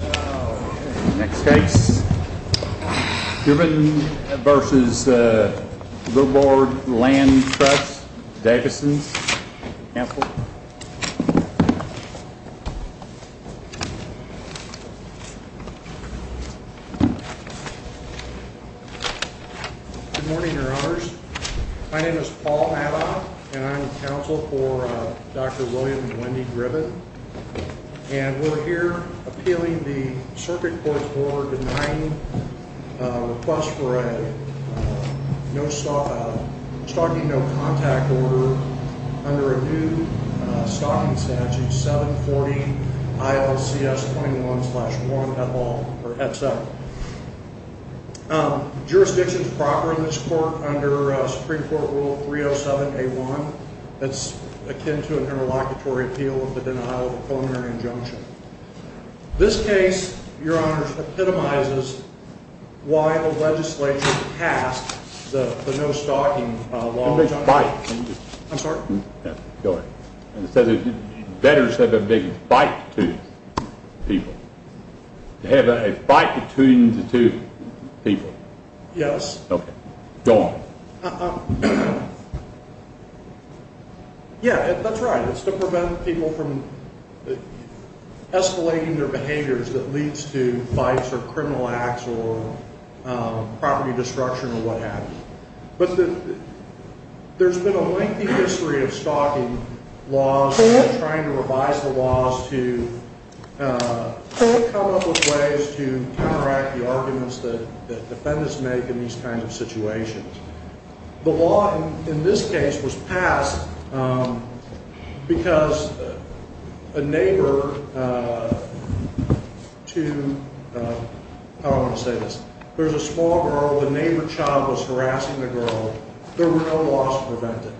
Next case, Dribben v. Lurbo Land Trust, Davidson. Good morning, your honors. My name is Paul Madoff, and I'm counsel for Dr. William and Wendy Dribben. And we're here appealing the Circuit Court's order denying request for a stalking no contact order under a new stalking statute, 740 ILCS.1. Jurisdiction is proper in this court under Supreme Court Rule 307A.1 that's akin to an interlocutory appeal of the Denial of Culminary Injunction. This case, your honors, epitomizes why the legislature passed the no stalking law. I'm sorry? Go ahead. It says that debtors have a big bite to people. They have a bite between the two people. Yes. Okay. Go on. Yeah, that's right. It's to prevent people from escalating their behaviors that leads to fights or criminal acts or property destruction or what have you. But there's been a lengthy history of stalking laws and trying to revise the laws to come up with ways to counteract the arguments that defendants make in these kinds of situations. The law in this case was passed because a neighbor to – how do I want to say this? There's a small girl. The neighbor child was harassing the girl. There were no laws to prevent it.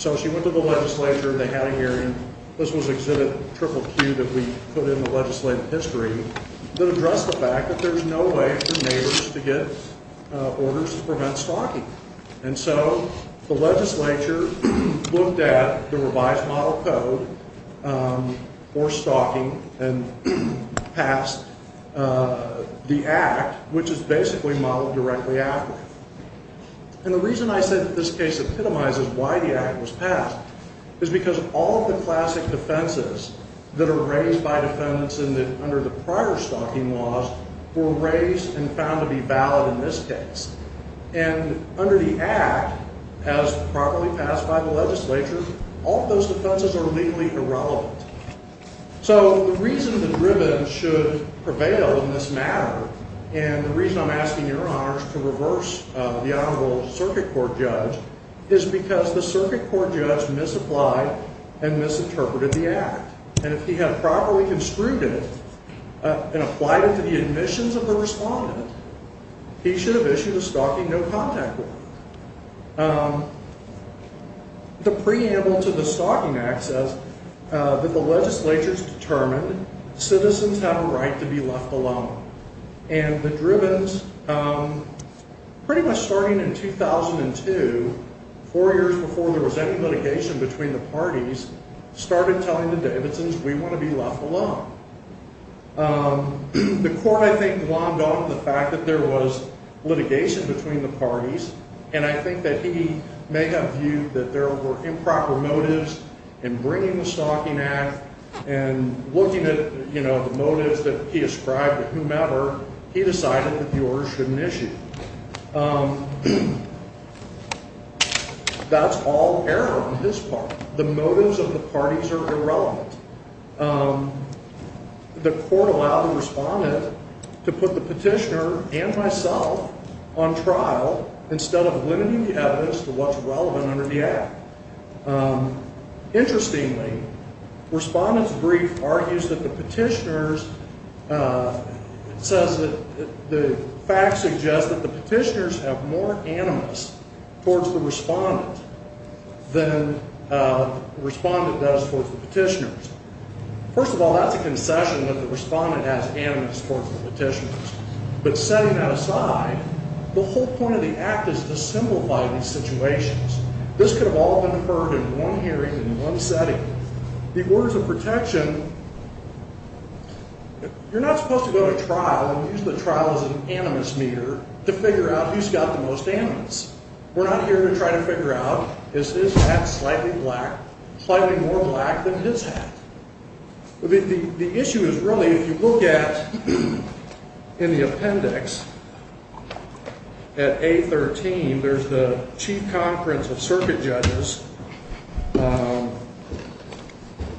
So she went to the legislature. They had a hearing. This was Exhibit QQQ that we put in the legislative history that addressed the fact that there's no way for neighbors to get orders to prevent stalking. And so the legislature looked at the revised model code for stalking and passed the act, which is basically modeled directly after it. And the reason I say that this case epitomizes why the act was passed is because all of the classic defenses that are raised by defendants under the prior stalking laws were raised and found to be valid in this case. And under the act, as properly passed by the legislature, all of those defenses are legally irrelevant. So the reason the driven should prevail in this matter, and the reason I'm asking your honors to reverse the honorable circuit court judge, is because the circuit court judge misapplied and misinterpreted the act. And if he had properly construed it and applied it to the admissions of the respondent, he should have issued a stalking no-contact order. The preamble to the stalking act says that the legislature's determined citizens have a right to be left alone. And the drivens, pretty much starting in 2002, four years before there was any litigation between the parties, started telling the Davidsons, we want to be left alone. The court, I think, glommed on the fact that there was litigation between the parties. And I think that he may have viewed that there were improper motives in bringing the stalking act and looking at, you know, the motives that he ascribed to whomever, he decided the viewers shouldn't issue it. That's all error on his part. The motives of the parties are irrelevant. The court allowed the respondent to put the petitioner and myself on trial instead of limiting the evidence to what's relevant under the act. Interestingly, the respondent's brief argues that the petitioner's, it says that the fact suggests that the petitioner's have more animus towards the respondent than the respondent does towards the petitioner. First of all, that's a concession that the respondent has animus towards the petitioner. But setting that aside, the whole point of the act is to symbolize these situations. This could have all been heard in one hearing in one setting. The orders of protection, you're not supposed to go to trial and use the trial as an animus meter to figure out who's got the most animus. We're not here to try to figure out is his hat slightly black, slightly more black than his hat. The issue is really if you look at in the appendix at A13, there's the chief conference of circuit judges,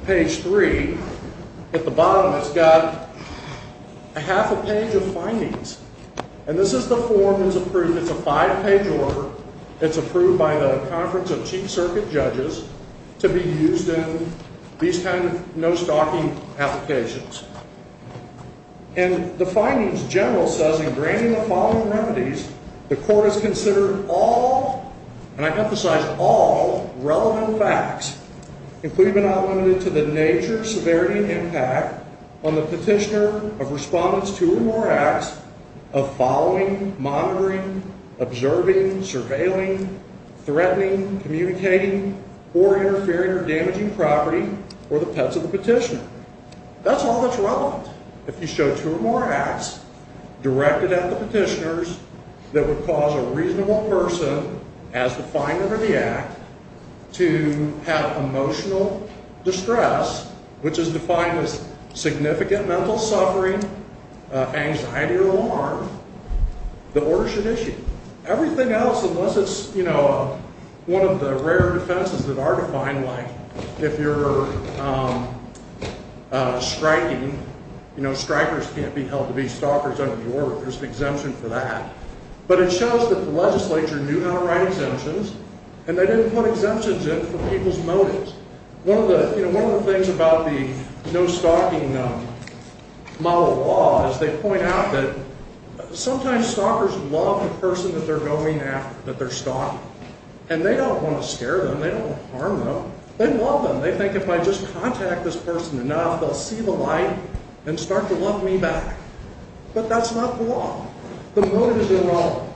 page three. At the bottom, it's got a half a page of findings. And this is the form that's approved. It's a five page order. It's approved by the conference of chief circuit judges to be used in these kind of no-stalking applications. And the findings general says in granting the following remedies, the court has considered all, and I emphasize all, relevant facts. Including but not limited to the nature, severity, and impact on the petitioner of respondents two or more acts of following, monitoring, observing, surveilling, threatening, communicating, or interfering or damaging property or the pets of the petitioner. That's all that's relevant. If you show two or more acts directed at the petitioners that would cause a reasonable person as the finder of the act to have emotional distress, which is defined as significant mental suffering, anxiety, or alarm, the order should issue. Everything else, unless it's one of the rare defenses that are defined, like if you're striking, strikers can't be held to be stalkers under the order. There's an exemption for that. But it shows that the legislature knew how to write exemptions, and they didn't put exemptions in for people's motives. One of the things about the no-stalking model law is they point out that sometimes stalkers love the person that they're going after, that they're stalking. And they don't want to scare them. They don't want to harm them. They love them. They think if I just contact this person enough, they'll see the light and start to love me back. But that's not the law. The motive is irrelevant.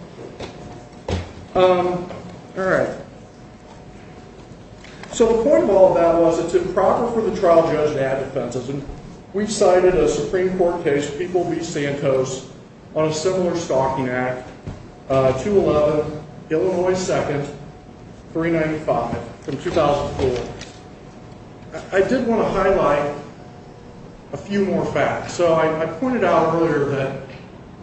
All right. So the point of all of that was it's improper for the trial judge to add defenses. And we've cited a Supreme Court case, People v. Santos, on a similar stalking act, 2-11, Illinois 2nd, 395, from 2004. I did want to highlight a few more facts. So I pointed out earlier that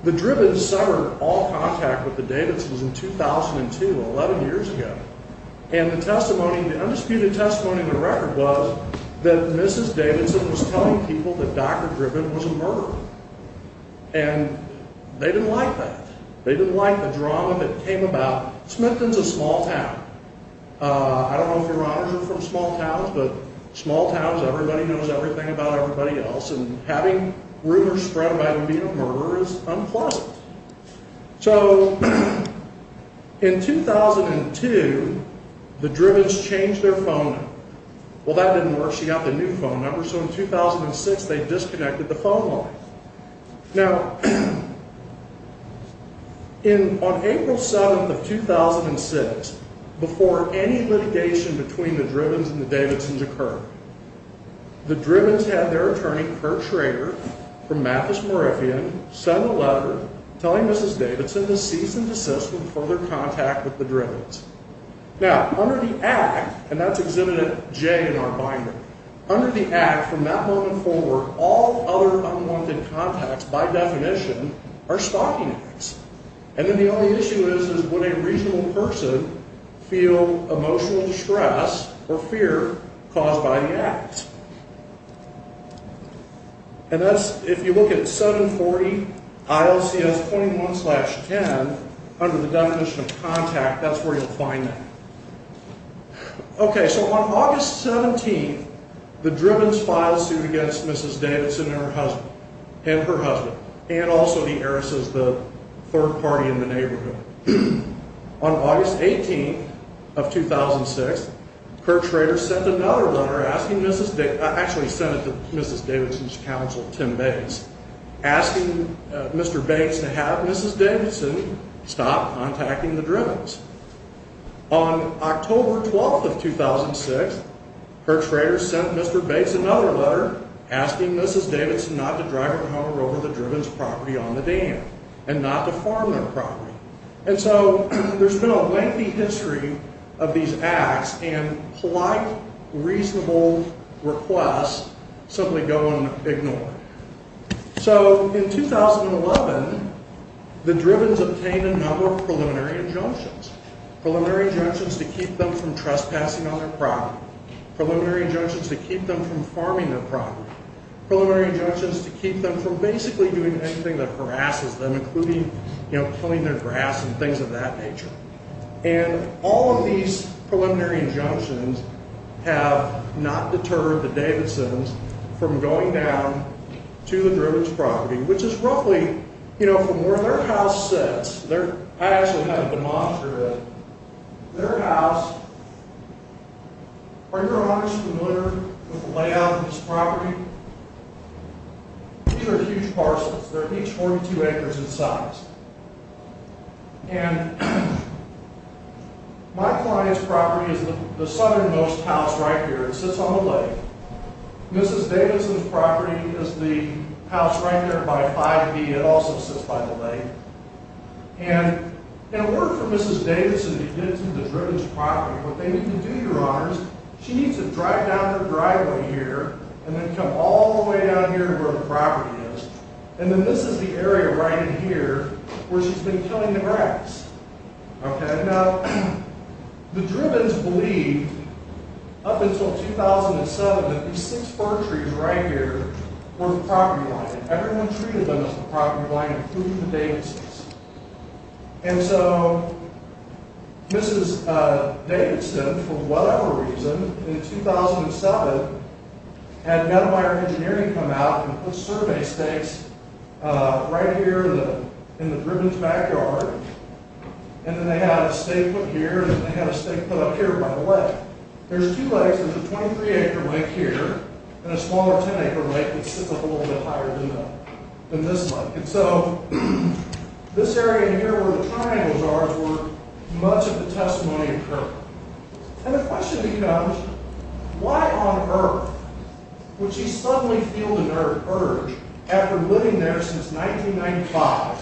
the Dribbins suffered all contact with the Davidsons in 2002, 11 years ago. And the testimony, the undisputed testimony in the record was that Mrs. Davidson was telling people that Dr. Dribbin was a murderer. And they didn't like that. They didn't like the drama that came about. Smithton's a small town. I don't know if your honors are from small towns, but small towns, everybody knows everything about everybody else. And having rumors spread about them being a murderer is unpleasant. So in 2002, the Dribbins changed their phone number. Well, that didn't work. She got the new phone number. So in 2006, they disconnected the phone line. Now, on April 7th of 2006, before any litigation between the Dribbins and the Davidsons occurred, the Dribbins had their attorney, Kirk Schrader, from Mathis, Moravian, send a letter telling Mrs. Davidson to cease and desist with further contact with the Dribbins. Now, under the Act, and that's exhibited at J in our binder, under the Act, from that moment forward, all other unwanted contacts, by definition, are stalking acts. And then the only issue is, is would a reasonable person feel emotional distress or fear caused by the act? And that's, if you look at 740 ILCS.1.10, under the definition of contact, that's where you'll find that. Okay, so on August 17th, the Dribbins filed suit against Mrs. Davidson and her husband, and also the Arises, the third party in the neighborhood. On August 18th of 2006, Kirk Schrader sent another letter, actually sent it to Mrs. Davidson's counsel, Tim Bates, asking Mr. Bates to have Mrs. Davidson stop contacting the Dribbins. On October 12th of 2006, Kirk Schrader sent Mr. Bates another letter asking Mrs. Davidson not to drive her home over the Dribbins' property on the dam, and not to farm their property. And so, there's been a lengthy history of these acts, and polite, reasonable requests simply go unignored. So, in 2011, the Dribbins obtained a number of preliminary injunctions. Preliminary injunctions to keep them from trespassing on their property. Preliminary injunctions to keep them from farming their property. Preliminary injunctions to keep them from basically doing anything that harasses them, including, you know, killing their grass and things of that nature. And all of these preliminary injunctions have not deterred the Davidsons from going down to the Dribbins' property, which is roughly, you know, from where their house sits. I actually have a demonstration of it. Their house, are you honestly familiar with the layout of this property? These are huge parcels. They're each 42 acres in size. And my client's property is the southernmost house right here. It sits on the lake. Mrs. Davidson's property is the house right there by 5B. It also sits by the lake. And in order for Mrs. Davidson to get into the Dribbins' property, what they need to do, Your Honors, she needs to drive down her driveway here, and then come all the way down here to where the property is. And then this is the area right in here where she's been killing the grass. Now, the Dribbins believed, up until 2007, that these six fir trees right here were the property line. Everyone treated them as the property line, including the Davidsons. And so Mrs. Davidson, for whatever reason, in 2007, had Meadowmire Engineering come out and put survey stakes right here in the Dribbins' backyard. And then they had a stake put here, and then they had a stake put up here by the lake. There's two lakes. There's a 23-acre lake here, and a smaller 10-acre lake that sits up a little bit higher than this lake. And so, this area in here where the triangle jars were, much of the testimony occurred. And the question becomes, why on earth would she suddenly feel the urge, after living there since 1995,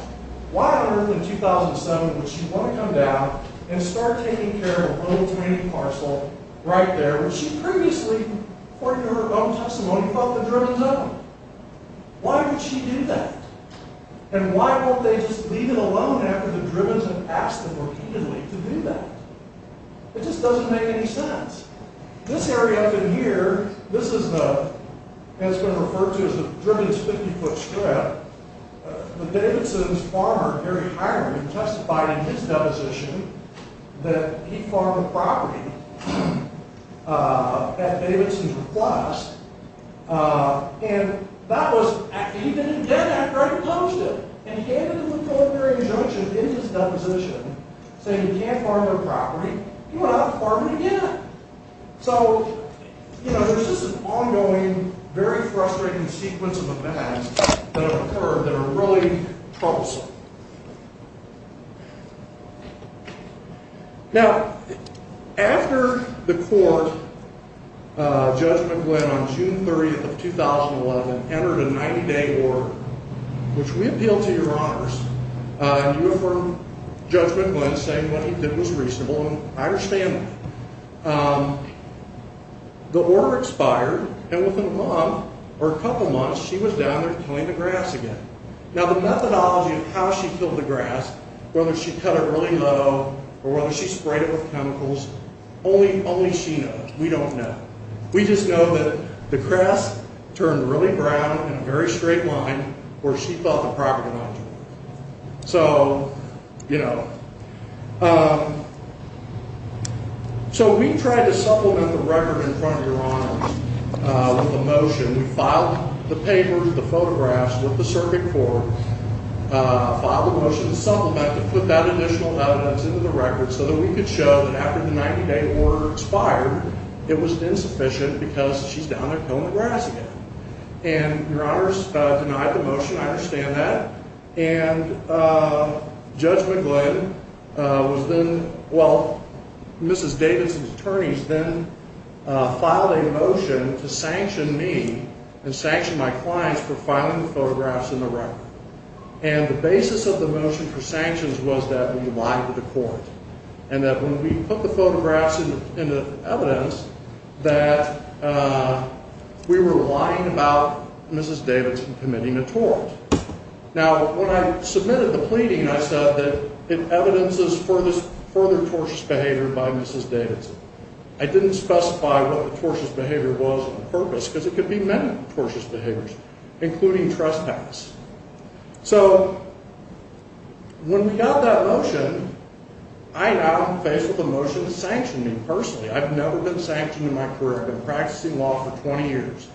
why on earth in 2007 would she want to come down and start taking care of a little tiny parcel right there, which she previously, according to her own testimony, felt the Dribbins' own? Why would she do that? And why won't they just leave it alone after the Dribbins have asked them repeatedly to do that? It just doesn't make any sense. This area up in here, this is what has been referred to as the Dribbins' 50-foot strip. The Davidson's farmer, Gary Hiram, testified in his deposition that he farmed a property at Davidson's request. And he didn't do that after I had published it. And he handed them a preliminary injunction in his deposition saying he can't farm their property. He went out and farmed it again. So there's this ongoing, very frustrating sequence of events that have occurred that are really troublesome. Now, after the court, Judge McGlynn, on June 30th of 2011, entered a 90-day order, which we appeal to your honors, and you affirm Judge McGlynn saying what he did was reasonable, and I understand that. The order expired, and within a month, or a couple months, she was down there tilling the grass again. Now, the methodology of how she tilled the grass, whether she cut it really low or whether she sprayed it with chemicals, only she knows. We don't know. We just know that the grass turned really brown in a very straight line where she felt the property might turn. So, you know. So we tried to supplement the record in front of your honors with a motion. We filed the papers, the photographs with the circuit court, filed a motion to supplement it with that additional evidence into the record so that we could show that after the 90-day order expired, it was insufficient because she's down there tilling the grass again. And your honors denied the motion. I understand that. And Judge McGlynn was then, well, Mrs. Davidson's attorneys then filed a motion to sanction me and sanction my clients for filing the photographs in the record. And the basis of the motion for sanctions was that we lied to the court. And that when we put the photographs in the evidence, that we were lying about Mrs. Davidson committing a tort. Now, when I submitted the pleading, I said that it evidences further tortious behavior by Mrs. Davidson. I didn't specify what the tortious behavior was on purpose because it could be many tortious behaviors, including trespass. So when we got that motion, I now am faced with a motion to sanction me personally. I've never been sanctioned in my career. I've been practicing law for 20 years.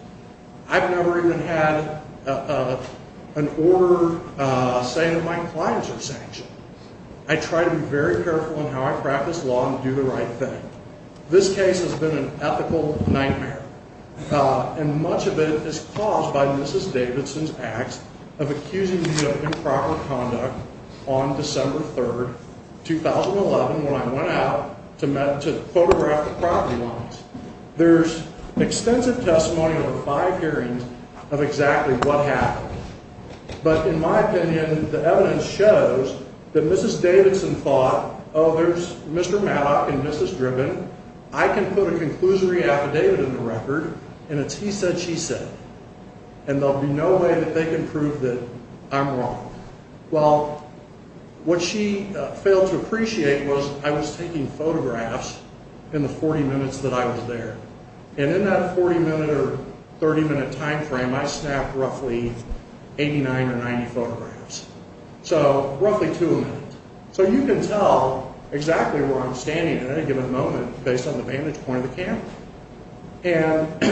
I've never even had an order saying that my clients are sanctioned. I try to be very careful in how I practice law and do the right thing. This case has been an ethical nightmare. And much of it is caused by Mrs. Davidson's acts of accusing me of improper conduct on December 3rd, 2011, when I went out to photograph the property lines. There's extensive testimony over five hearings of exactly what happened. But in my opinion, the evidence shows that Mrs. Davidson thought, oh, there's Mr. Mattock and Mrs. Driven. I can put a conclusory affidavit in the record, and it's he said, she said. And there'll be no way that they can prove that I'm wrong. Well, what she failed to appreciate was I was taking photographs in the 40 minutes that I was there. And in that 40-minute or 30-minute time frame, I snapped roughly 89 or 90 photographs. So roughly two a minute. So you can tell exactly where I'm standing at any given moment based on the vantage point of the camera. And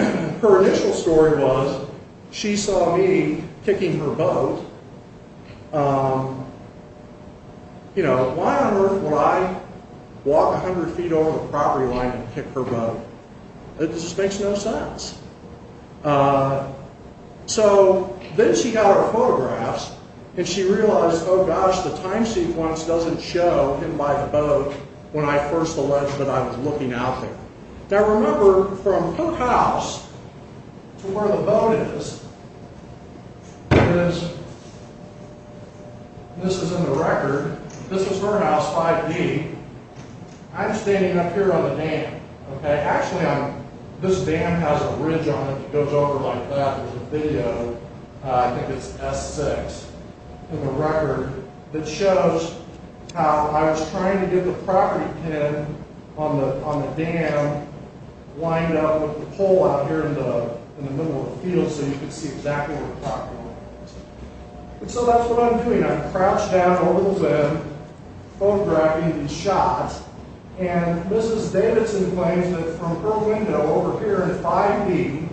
her initial story was she saw me kicking her boat. You know, why on earth would I walk 100 feet over the property line and kick her boat? It just makes no sense. So then she got her photographs, and she realized, oh, gosh, the time sequence doesn't show him by the boat when I first alleged that I was looking out there. Now, remember, from her house to where the boat is, this is in the record. This is her house 5D. I'm standing up here on the dam. Actually, this dam has a ridge on it that goes over like that. I think it's S6 in the record. It shows how I was trying to get the property pin on the dam lined up with the pole out here in the middle of the field so you could see exactly where the property was. And so that's what I'm doing. I'm crouched down a little bit, photographing these shots. And Mrs. Davidson claims that from her window over here in 5D,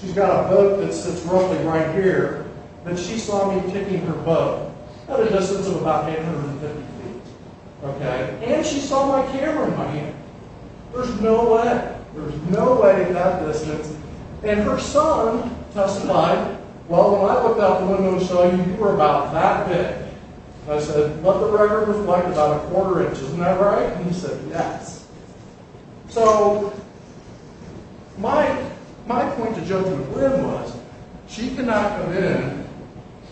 she's got a boat that sits roughly right here, that she saw me kicking her boat at a distance of about 850 feet. And she saw my camera in my hand. There's no way. There's no way at that distance. And her son testified, well, when I looked out the window to show you, you were about that big. I said, what the record was like about a quarter inch. Isn't that right? And he said, yes. So my point to Joe Goodwin was, she could not come in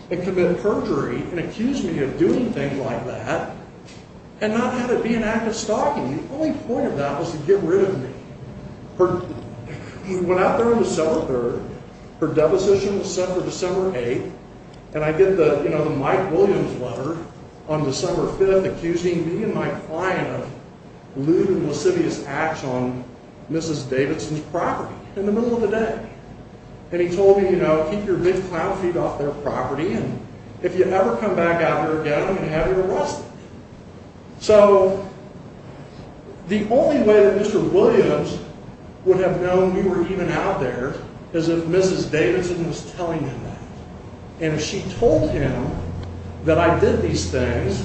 and commit perjury and accuse me of doing things like that and not have it be an act of stalking me. The only point of that was to get rid of me. He went out there on December 3rd. Her deposition was set for December 8th. And I get the Mike Williams letter on December 5th accusing me and my client of lewd and lascivious acts on Mrs. Davidson's property in the middle of the day. And he told me, you know, keep your big cloud feet off their property. And if you ever come back out here again, I'm going to have you arrested. So the only way that Mr. Williams would have known we were even out there is if Mrs. Davidson was telling him that. And if she told him that I did these things,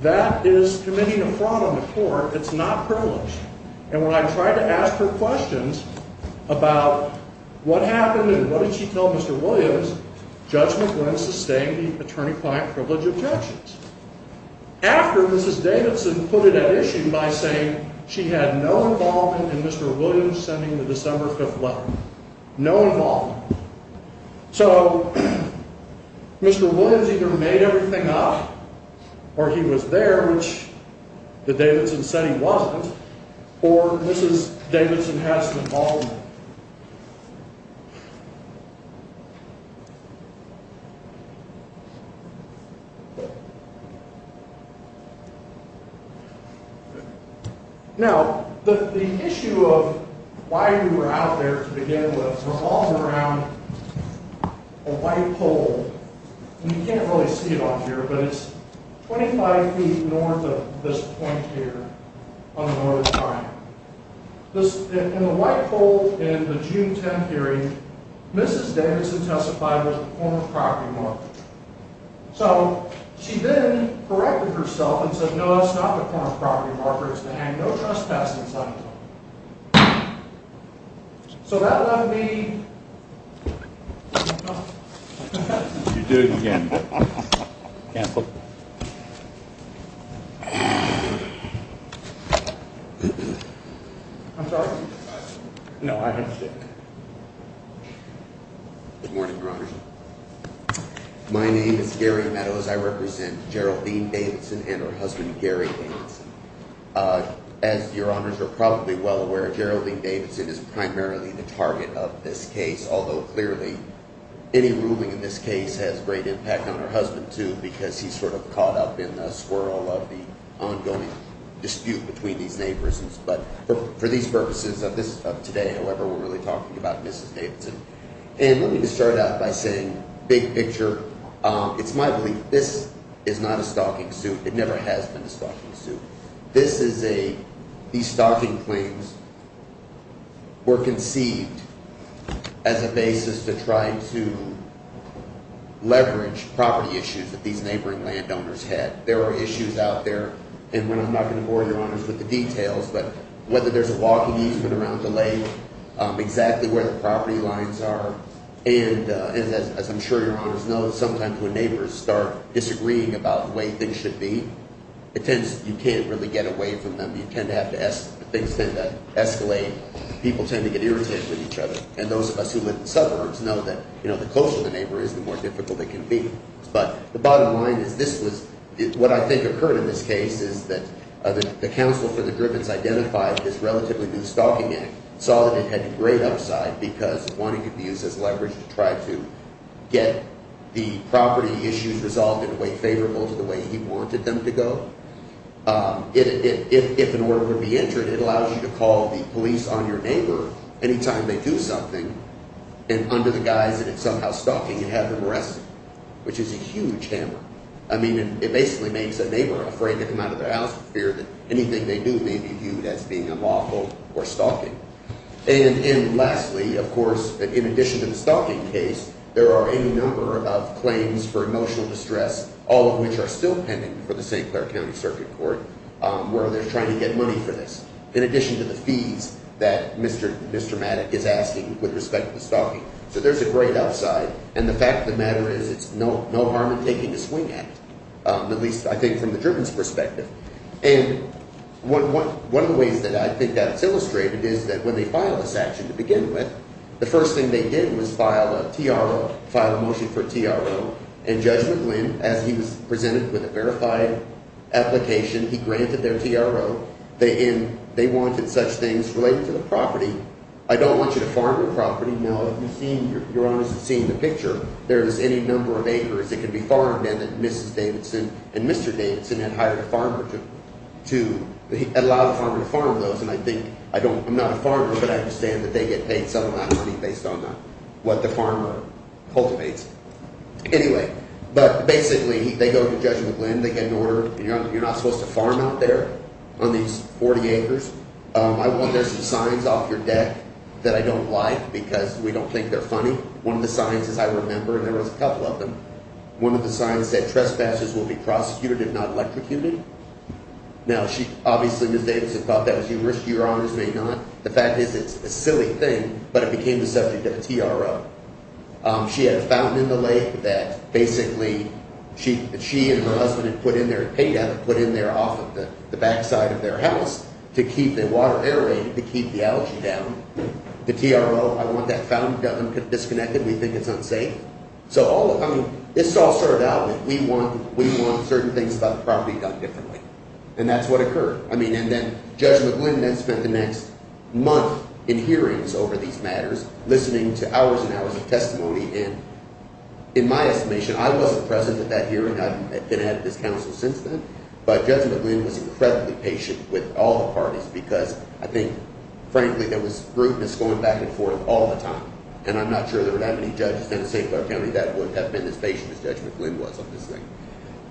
that is committing a fraud on the court. It's not privilege. And when I tried to ask her questions about what happened and what did she tell Mr. Williams, Judge McGlynn sustained the attorney-client privilege objections. After Mrs. Davidson put it at issue by saying she had no involvement in Mr. Williams sending the December 5th letter. No involvement. So Mr. Williams either made everything up or he was there, which the Davidson said he wasn't, or Mrs. Davidson had some involvement. Now, the issue of why we were out there to begin with revolves around a white pole. And you can't really see it on here, but it's 25 feet north of this point here on the north side. In the white pole in the June 10th hearing, Mrs. Davidson testified with a form of property marker. So she then corrected herself and said, no, that's not the form of property marker, it's to hang no trespassing sign on it. So that left me... You're doing it again. Cancel. I'm sorry. No, I understand. Good morning, Your Honor. My name is Gary Meadows. I represent Geraldine Davidson and her husband, Gary Davidson. As Your Honors are probably well aware, Geraldine Davidson is primarily the target of this case. Although, clearly, any ruling in this case has great impact on her husband, too, because he's sort of caught up in the swirl of the ongoing dispute between these neighbors. But for these purposes of today, however, we're really talking about Mrs. Davidson. And let me just start out by saying, big picture, it's my belief this is not a stalking suit. It never has been a stalking suit. This is a... These stalking claims were conceived as a basis to try to leverage property issues that these neighboring landowners had. There are issues out there, and I'm not going to bore Your Honors with the details, but whether there's a walking easement around the lake, exactly where the property lines are. And as I'm sure Your Honors know, sometimes when neighbors start disagreeing about the way things should be, it tends... You can't really get away from them. You tend to have to... Things tend to escalate. People tend to get irritated with each other. And those of us who live in suburbs know that the closer the neighbor is, the more difficult it can be. But the bottom line is this was... What I think occurred in this case is that the counsel for the Griffiths identified this relatively new stalking act. Saw that it had to grade upside because it wanted to be used as leverage to try to get the property issues resolved in a way favorable to the way he wanted them to go. If an order were to be entered, it allows you to call the police on your neighbor any time they do something. And under the guise that it's somehow stalking, you have them arrested, which is a huge hammer. I mean, it basically makes a neighbor afraid to come out of their house with fear that anything they do may be viewed as being unlawful or stalking. And lastly, of course, in addition to the stalking case, there are any number of claims for emotional distress, all of which are still pending for the St. Clair County Circuit Court, where they're trying to get money for this. In addition to the fees that Mr. Mr. Mattick is asking with respect to the stalking. So there's a great outside. And the fact of the matter is it's no harm in taking a swing at least, I think, from the driven perspective. And one of the ways that I think that's illustrated is that when they file this action to begin with, the first thing they did was file a T.R.O., file a motion for T.R.O. And Judge McGlynn, as he was presented with a verified application, he granted their T.R.O. They wanted such things related to the property. I don't want you to farm your property. Now, if you've seen – if you're honest in seeing the picture, there is any number of acres that can be farmed and that Mrs. Davidson and Mr. Davidson had hired a farmer to allow the farmer to farm those. And I think – I don't – I'm not a farmer, but I understand that they get paid some amount of money based on what the farmer cultivates. Anyway, but basically, they go to Judge McGlynn. They get an order. You're not supposed to farm out there on these 40 acres. I want there's some signs off your deck that I don't like because we don't think they're funny. One of the signs is I remember – and there was a couple of them – one of the signs said trespassers will be prosecuted if not electrocuted. Now, she – obviously, Mrs. Davidson thought that was humorous. Your Honors may not. The fact is it's a silly thing, but it became the subject of a T.R.O. She had a fountain in the lake that basically she and her husband had put in there – had paid out and put in there off of the backside of their house to keep the water aerated, to keep the algae down. The T.R.O. – I want that fountain disconnected. We think it's unsafe. So all – I mean, this all started out that we want certain things about the property done differently, and that's what occurred. I mean, and then Judge McGlynn then spent the next month in hearings over these matters, listening to hours and hours of testimony. And in my estimation, I wasn't present at that hearing. I've been at this counsel since then. But Judge McGlynn was incredibly patient with all the parties because I think, frankly, there was rudeness going back and forth all the time. And I'm not sure there were that many judges down in St. Clair County that would have been as patient as Judge McGlynn was on this thing.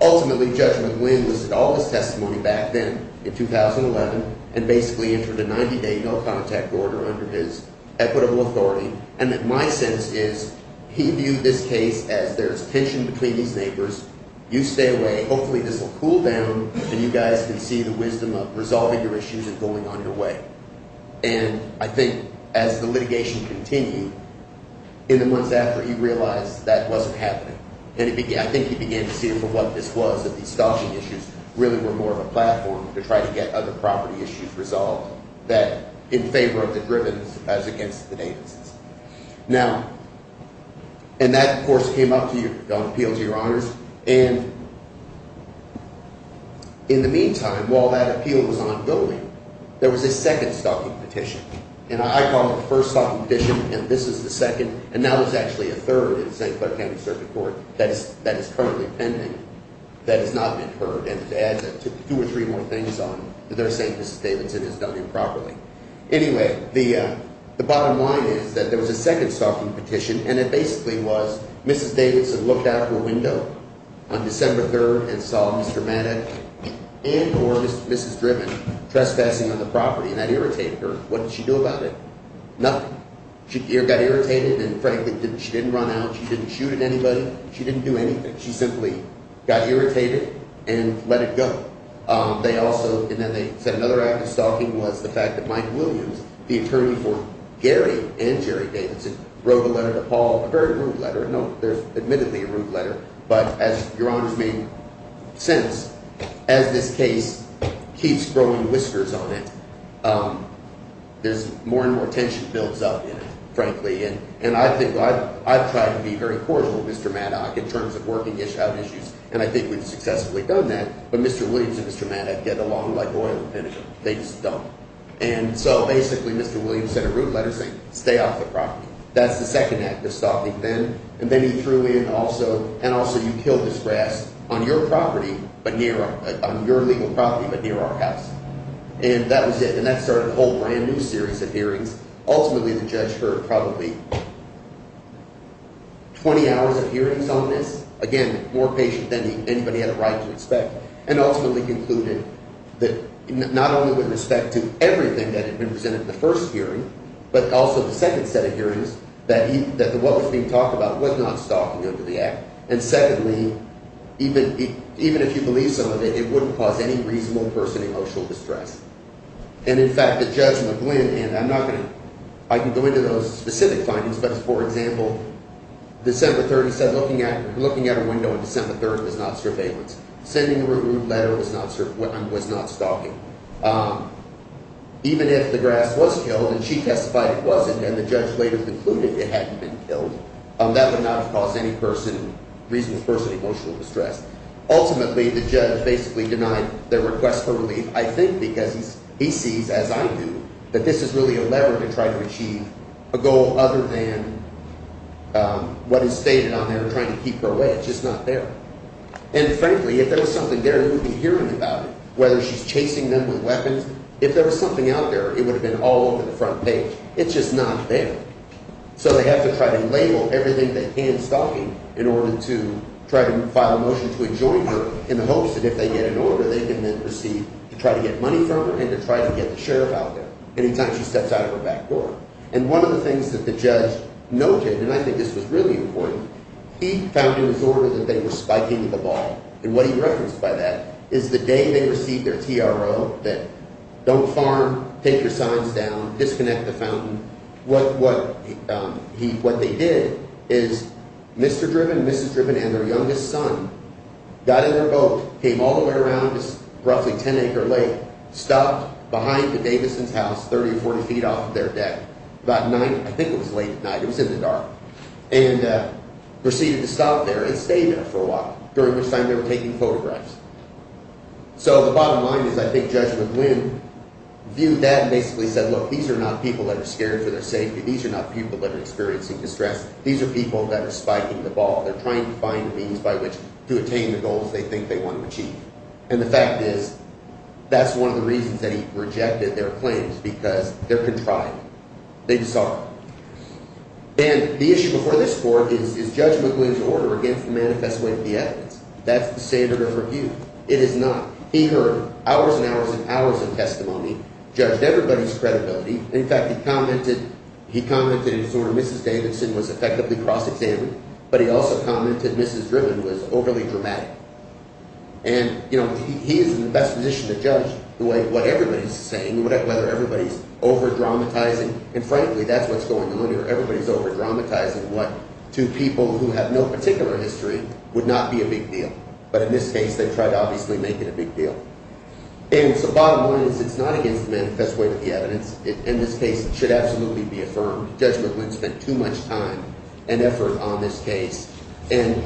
Ultimately, Judge McGlynn was at all his testimony back then in 2011 and basically entered a 90-day no-contact order under his equitable authority. And my sense is he viewed this case as there's tension between these neighbors. You stay away. Hopefully, this will cool down and you guys can see the wisdom of resolving your issues and going on your way. And I think as the litigation continued, in the months after, he realized that wasn't happening. And I think he began to see it for what this was, that these stalking issues really were more of a platform to try to get other property issues resolved that in favor of the Drivens as against the Davises. Now, and that, of course, came up on appeal to your honors. And in the meantime, while that appeal was ongoing, there was a second stalking petition. And I call it the first stalking petition, and this is the second. And now there's actually a third in St. Clair County Circuit Court that is currently pending that has not been heard. And to add two or three more things on, they're saying Mrs. Davidson has done improperly. Anyway, the bottom line is that there was a second stalking petition, and it basically was Mrs. Davidson looked out her window on December 3rd and saw Mr. Manette and or Mrs. Driven trespassing on the property. And that irritated her. What did she do about it? Nothing. She got irritated, and frankly, she didn't run out. She didn't shoot at anybody. She didn't do anything. She simply got irritated and let it go. They also – and then they said another act of stalking was the fact that Mike Williams, the attorney for Gary and Jerry Davidson, wrote a letter to Paul, a very rude letter. No, there's admittedly a rude letter, but as Your Honor's made sense, as this case keeps growing whiskers on it, there's more and more tension builds up in it, frankly. And I think I've tried to be very cordial with Mr. Manette in terms of working issues, and I think we've successfully done that. But Mr. Williams and Mr. Manette get along like oil and finish them. They just don't. And so basically Mr. Williams sent a rude letter saying stay off the property. That's the second act of stalking then. And then he threw in also – and also you killed this grass on your property but near – on your legal property but near our house. And that was it, and that started a whole brand-new series of hearings. Ultimately, the judge heard probably 20 hours of hearings on this. Again, more patient than anybody had a right to expect. And ultimately concluded that not only with respect to everything that had been presented in the first hearing but also the second set of hearings that he – that what was being talked about was not stalking under the act. And secondly, even if you believe some of it, it wouldn't cause any reasonable person emotional distress. And in fact, the judge McGlynn – and I'm not going to – I can go into those specific findings, but for example, December 3rd he said looking at a window on December 3rd was not surveillance. Sending a rude letter was not stalking. Even if the grass was killed and she testified it wasn't and the judge later concluded it hadn't been killed, that would not have caused any person – reasonable person emotional distress. Ultimately, the judge basically denied the request for relief, I think because he sees, as I do, that this is really a lever to try to achieve a goal other than what is stated on there trying to keep her away. It's just not there. And frankly, if there was something there, he would be hearing about it, whether she's chasing them with weapons. If there was something out there, it would have been all over the front page. It's just not there. So they have to try to label everything that can stalking in order to try to file a motion to enjoin her in the hopes that if they get an order, they can then proceed to try to get money from her and to try to get the sheriff out there anytime she steps out of her back door. And one of the things that the judge noted, and I think this was really important, he found in his order that they were spiking the ball. And what he referenced by that is the day they received their TRO, that don't farm, take your signs down, disconnect the fountain. What they did is Mr. Driven, Mrs. Driven, and their youngest son got in their boat, came all the way around this roughly 10 acre lake, stopped behind the Davison's house 30 or 40 feet off of their deck about nine. I think it was late at night. It was in the dark and proceeded to stop there and stay there for a while, during which time they were taking photographs. So the bottom line is I think Judge McGlynn viewed that and basically said, look, these are not people that are scared for their safety. These are not people that are experiencing distress. These are people that are spiking the ball. They're trying to find a means by which to attain the goals they think they want to achieve. And the fact is, that's one of the reasons that he rejected their claims because they're contrived. They just aren't. And the issue before this court is Judge McGlynn's order against the manifest way of the evidence. That's the standard of review. It is not. He heard hours and hours and hours of testimony, judged everybody's credibility. In fact, he commented in sort of Mrs. Davison was effectively cross-examined, but he also commented Mrs. Driven was overly dramatic. And he is in the best position to judge what everybody's saying, whether everybody's over-dramatizing. And frankly, that's what's going on here. Everybody's over-dramatizing what to people who have no particular history would not be a big deal. But in this case, they tried to obviously make it a big deal. And so bottom line is it's not against the manifest way of the evidence. In this case, it should absolutely be affirmed. Judge McGlynn spent too much time and effort on this case. And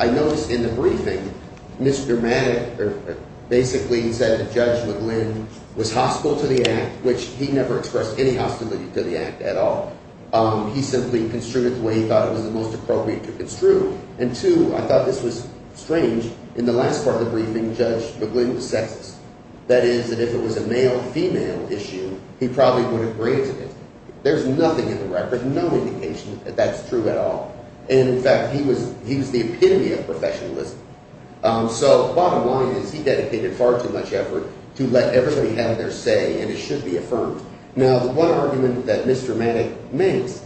I noticed in the briefing Ms. Dramatic basically said that Judge McGlynn was hostile to the act, which he never expressed any hostility to the act at all. He simply construed it the way he thought it was the most appropriate to construe. And two, I thought this was strange. In the last part of the briefing, Judge McGlynn was sexist. That is, that if it was a male-female issue, he probably would have granted it. There's nothing in the record, no indication that that's true at all. And, in fact, he was the epitome of professionalism. So bottom line is he dedicated far too much effort to let everybody have their say, and it should be affirmed. Now, the one argument that Mr. Maddox makes,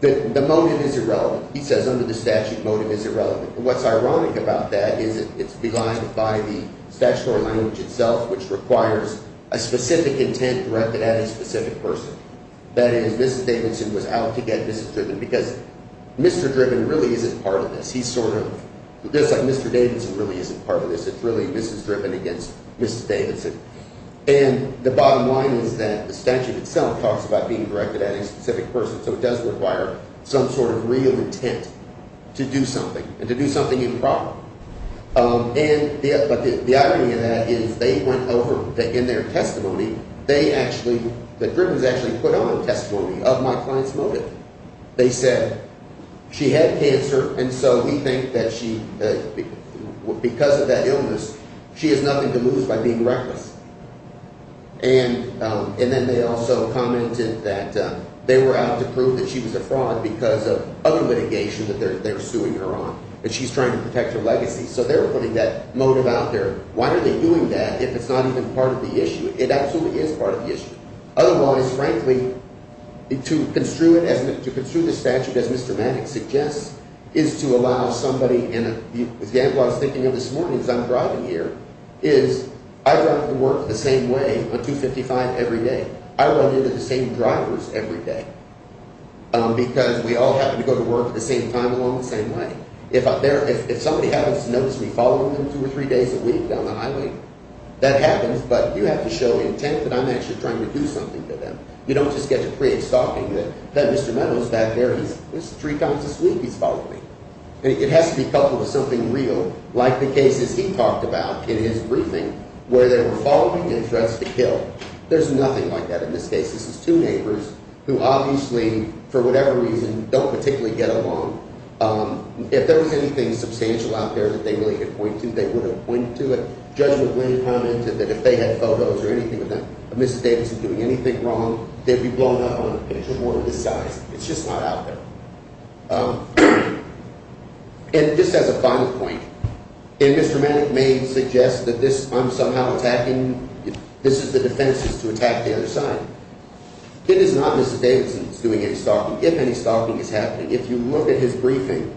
the motive is irrelevant. He says under the statute, motive is irrelevant. And what's ironic about that is it's belied by the statutory language itself, which requires a specific intent directed at a specific person. That is, Mrs. Davidson was out to get Mrs. Driven because Mr. Driven really isn't part of this. He's sort of – just like Mr. Davidson really isn't part of this. It's really Mrs. Driven against Mrs. Davidson. And the bottom line is that the statute itself talks about being directed at a specific person, so it does require some sort of real intent to do something and to do something improper. And – but the irony of that is they went over – in their testimony, they actually – that Driven's actually put on a testimony of my client's motive. They said she had cancer, and so we think that she – because of that illness, she has nothing to lose by being reckless. And then they also commented that they were out to prove that she was a fraud because of other litigation that they're suing her on. And she's trying to protect her legacy. So they're putting that motive out there. Why are they doing that if it's not even part of the issue? It absolutely is part of the issue. Otherwise, frankly, to construe it as – to construe this statute as Mr. Maddox suggests is to allow somebody in a – the example I was thinking of this morning as I'm driving here is I drive to work the same way on 255 every day. I run into the same drivers every day because we all happen to go to work at the same time along the same way. If I'm there – if somebody happens to notice me following them two or three days a week down the highway, that happens, but you have to show intent that I'm actually trying to do something to them. You don't just get to create stalking that Mr. Maddox is back there. He's three times this week. He's following me. It has to be coupled with something real like the cases he talked about in his briefing where they were following and threats to kill. There's nothing like that in this case. This is two neighbors who obviously, for whatever reason, don't particularly get along. If there was anything substantial out there that they really could point to, they would have pointed to it. Judge McWhinney commented that if they had photos or anything of that – of Mrs. Davidson doing anything wrong, they'd be blown up on a picture board of this size. It's just not out there. And just as a final point, and Mr. Maddox may suggest that this – I'm somehow attacking – this is the defense is to attack the other side. It is not Mrs. Davidson who's doing any stalking. If any stalking is happening, if you look at his briefing,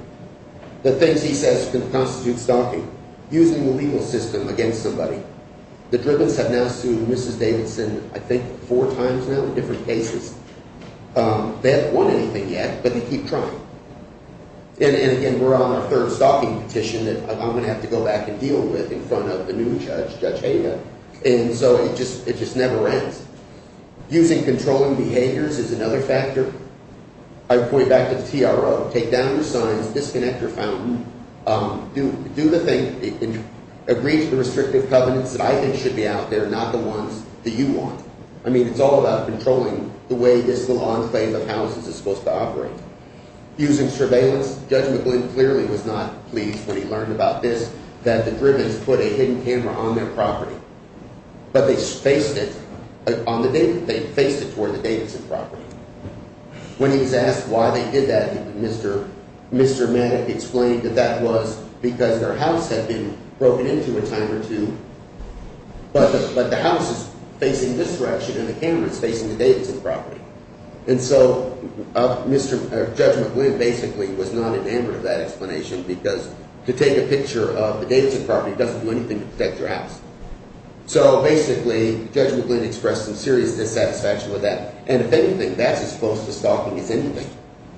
the things he says can constitute stalking, using the legal system against somebody. The Drivens have now sued Mrs. Davidson I think four times now in different cases. They haven't won anything yet, but they keep trying. And again, we're on our third stalking petition that I'm going to have to go back and deal with in front of the new judge, Judge Hayden. And so it just never ends. Using controlling behaviors is another factor. I would point back to the TRO. Take down your signs. Disconnect your fountain. Do the thing. Agree to the restrictive covenants that I think should be out there, not the ones that you want. I mean, it's all about controlling the way this little enclave of houses is supposed to operate. Using surveillance, Judge McWhinney clearly was not pleased when he learned about this, that the Drivens put a hidden camera on their property. But they faced it. They faced it toward the Davidson property. When he was asked why they did that, Mr. Manick explained that that was because their house had been broken into a time or two. But the house is facing this direction and the camera is facing the Davidson property. And so Judge McWhinney basically was not in favor of that explanation because to take a picture of the Davidson property doesn't do anything to protect your house. So basically Judge McWhinney expressed some serious dissatisfaction with that. And if anything, that's as close to stalking as anything,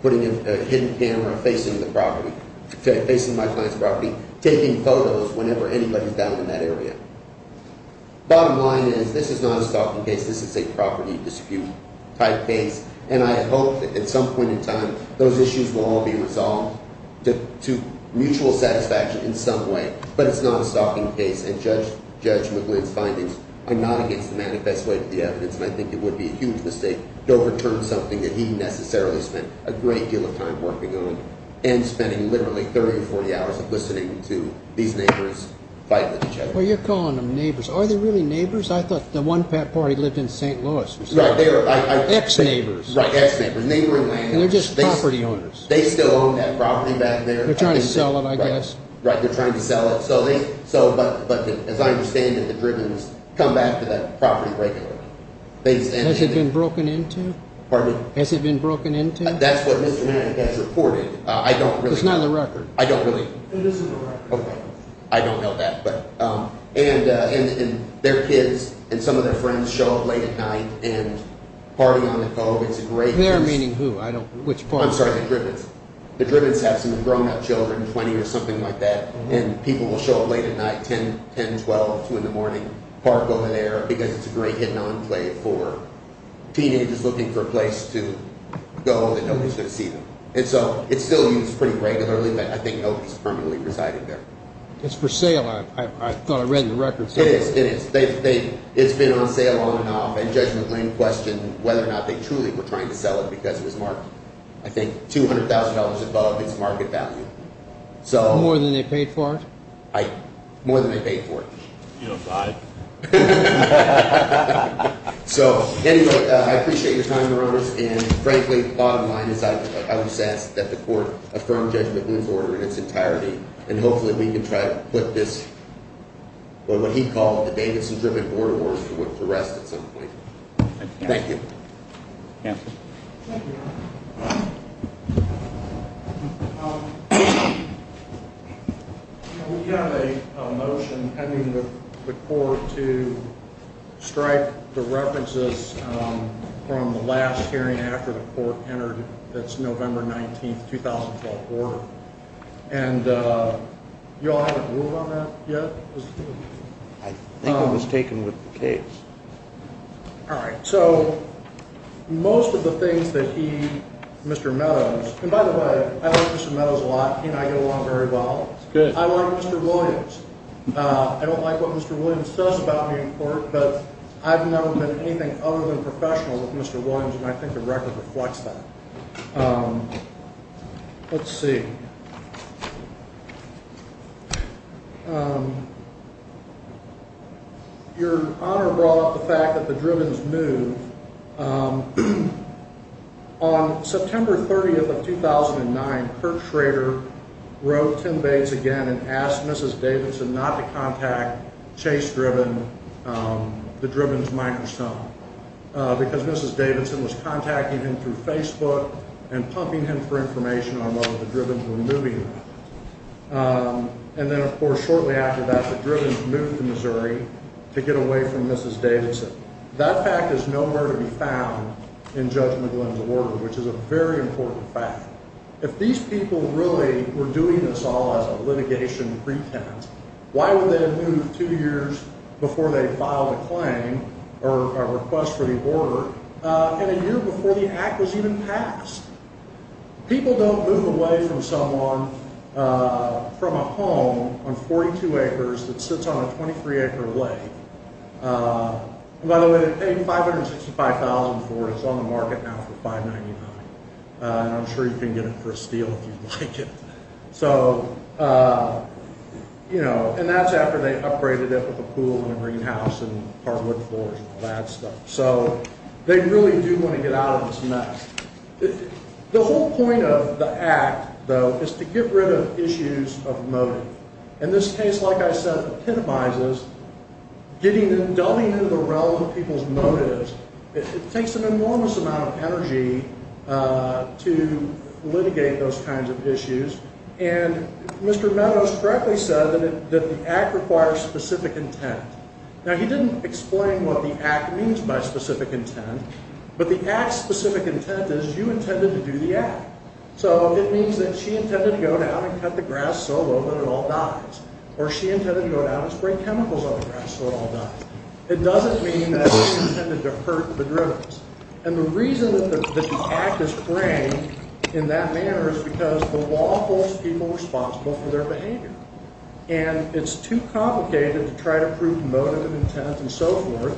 putting a hidden camera facing the property, facing my client's property, taking photos whenever anybody's down in that area. Bottom line is this is not a stalking case. This is a property dispute type case. And I hope that at some point in time those issues will all be resolved to mutual satisfaction in some way. But it's not a stalking case. And Judge McGlynn's findings are not against the manifest way of the evidence. And I think it would be a huge mistake to overturn something that he necessarily spent a great deal of time working on and spending literally 30 or 40 hours listening to these neighbors fight with each other. Well, you're calling them neighbors. Are they really neighbors? I thought the one pet party lived in St. Louis. Ex-neighbors. Right. Ex-neighbors. Neighboring landlords. And they're just property owners. They still own that property back there. They're trying to sell it, I guess. Right. They're trying to sell it. But as I understand it, the Drivens come back to that property regularly. Has it been broken into? Pardon me? Has it been broken into? That's what Mr. Manning has reported. I don't really know. It's not in the record. I don't really know. It is in the record. Okay. I don't know that. And their kids and some of their friends show up late at night and party on the cove. It's a great place. They're meaning who? I don't know. Which part? I'm sorry. The Drivens. The Drivens have some grown-up children, 20 or something like that. And people will show up late at night, 10, 10, 12, 2 in the morning, park over there because it's a great hidden enclave for teenagers looking for a place to go that nobody's going to see them. And so it's still used pretty regularly, but I think nobody's permanently residing there. It's for sale. I thought I read in the record. It is. It is. It's been on sale on and off. And Judge McLean questioned whether or not they truly were trying to sell it because it was marked, I think, $200,000 above its market value. More than they paid for it? More than they paid for it. You don't buy it? So anyway, I appreciate your time, Your Honors. And frankly, the thought of mine is I'm obsessed that the Court affirm Judge McLean's order in its entirety. And hopefully we can try to put this, what he called the Davidson-driven border war, to rest at some point. Thank you. Thank you, Your Honor. We have a motion pending with the Court to strike the references from the last hearing after the Court entered its November 19, 2012, order. And you all haven't ruled on that yet? I think it was taken with the case. All right. So most of the things that he, Mr. Meadows, and by the way, I like Mr. Meadows a lot. He and I get along very well. I like Mr. Williams. I don't like what Mr. Williams does about me in court, but I've never done anything other than professional with Mr. Williams, and I think the record reflects that. Let's see. Your Honor brought up the fact that the Drivens moved. On September 30, 2009, Kurt Schrader wrote Tim Bates again and asked Mrs. Davidson not to contact Chase Driven, the Drivens' microphone, because Mrs. Davidson was contacting him through And then, of course, shortly after that, the Drivens moved to Missouri to get away from Mrs. Davidson. That fact is nowhere to be found in Judge McGlynn's order, which is a very important fact. If these people really were doing this all as a litigation pretense, why would they have moved two years before they filed a claim or a request for the order and a year before the act was even passed? People don't move away from someone, from a home on 42 acres that sits on a 23-acre lake. By the way, the A565,000 Ford is on the market now for $599,000, and I'm sure you can get it for a steal if you'd like it. And that's after they upgraded it with a pool and a greenhouse and hardwood floors and all that stuff. So they really do want to get out of this mess. The whole point of the act, though, is to get rid of issues of motive. In this case, like I said, it epitomizes delving into the realm of people's motives. It takes an enormous amount of energy to litigate those kinds of issues, and Mr. Meadows correctly said that the act requires specific intent. Now, he didn't explain what the act means by specific intent, but the act's specific intent is you intended to do the act. So it means that she intended to go down and cut the grass so low that it all dies, or she intended to go down and spray chemicals on the grass so it all dies. It doesn't mean that she intended to hurt the drivers. And the reason that the act is framed in that manner is because the law holds people responsible for their behavior. And it's too complicated to try to prove motive and intent and so forth.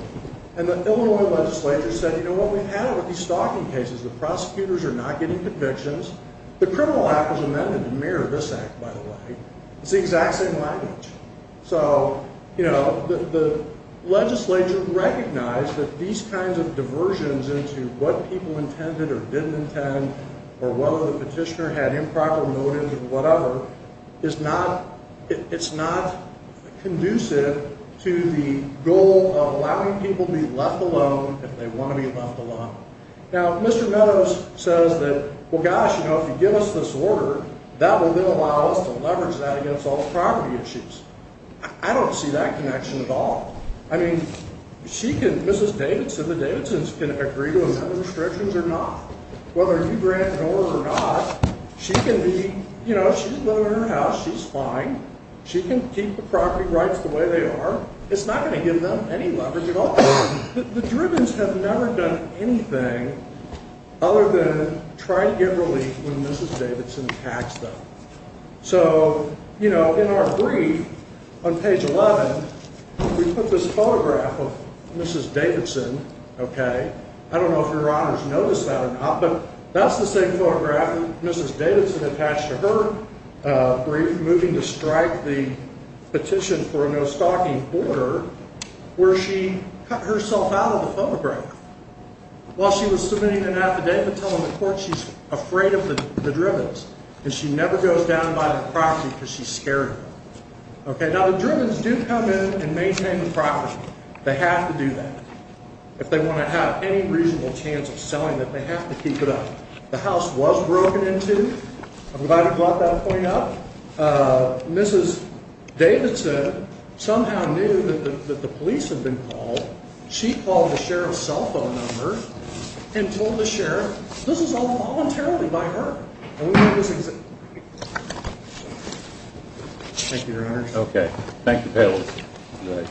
And the Illinois legislature said, you know what, we've had it with these stalking cases. The prosecutors are not getting convictions. The criminal act was amended to mirror this act, by the way. It's the exact same language. So, you know, the legislature recognized that these kinds of diversions into what people or whatever is not, it's not conducive to the goal of allowing people to be left alone if they want to be left alone. Now, Mr. Meadows says that, well, gosh, you know, if you give us this order, that will then allow us to leverage that against all the property issues. I don't see that connection at all. I mean, she can, Mrs. Davidson, the Davidsons can agree to another restrictions or not. Whether you grant an order or not, she can be, you know, she can live in her house. She's fine. She can keep the property rights the way they are. It's not going to give them any leverage at all. The Drivens have never done anything other than try to get relief when Mrs. Davidson tags them. So, you know, in our brief on page 11, we put this photograph of Mrs. Davidson, okay. I don't know if Your Honors noticed that or not, but that's the same photograph Mrs. Davidson attached to her brief moving to strike the petition for a no-stalking order where she cut herself out of the photograph while she was submitting an affidavit telling the court she's afraid of the Drivens and she never goes down by the property because she's scared of them. Okay. Now, the Drivens do come in and maintain the property. They have to do that. If they want to have any reasonable chance of selling it, they have to keep it up. The house was broken into. I'm glad you brought that point up. Mrs. Davidson somehow knew that the police had been called. She called the sheriff's cell phone number and told the sheriff this is all voluntarily by her. And we have this exhibit. Thank you, Your Honors. Okay. Thank you, Payles.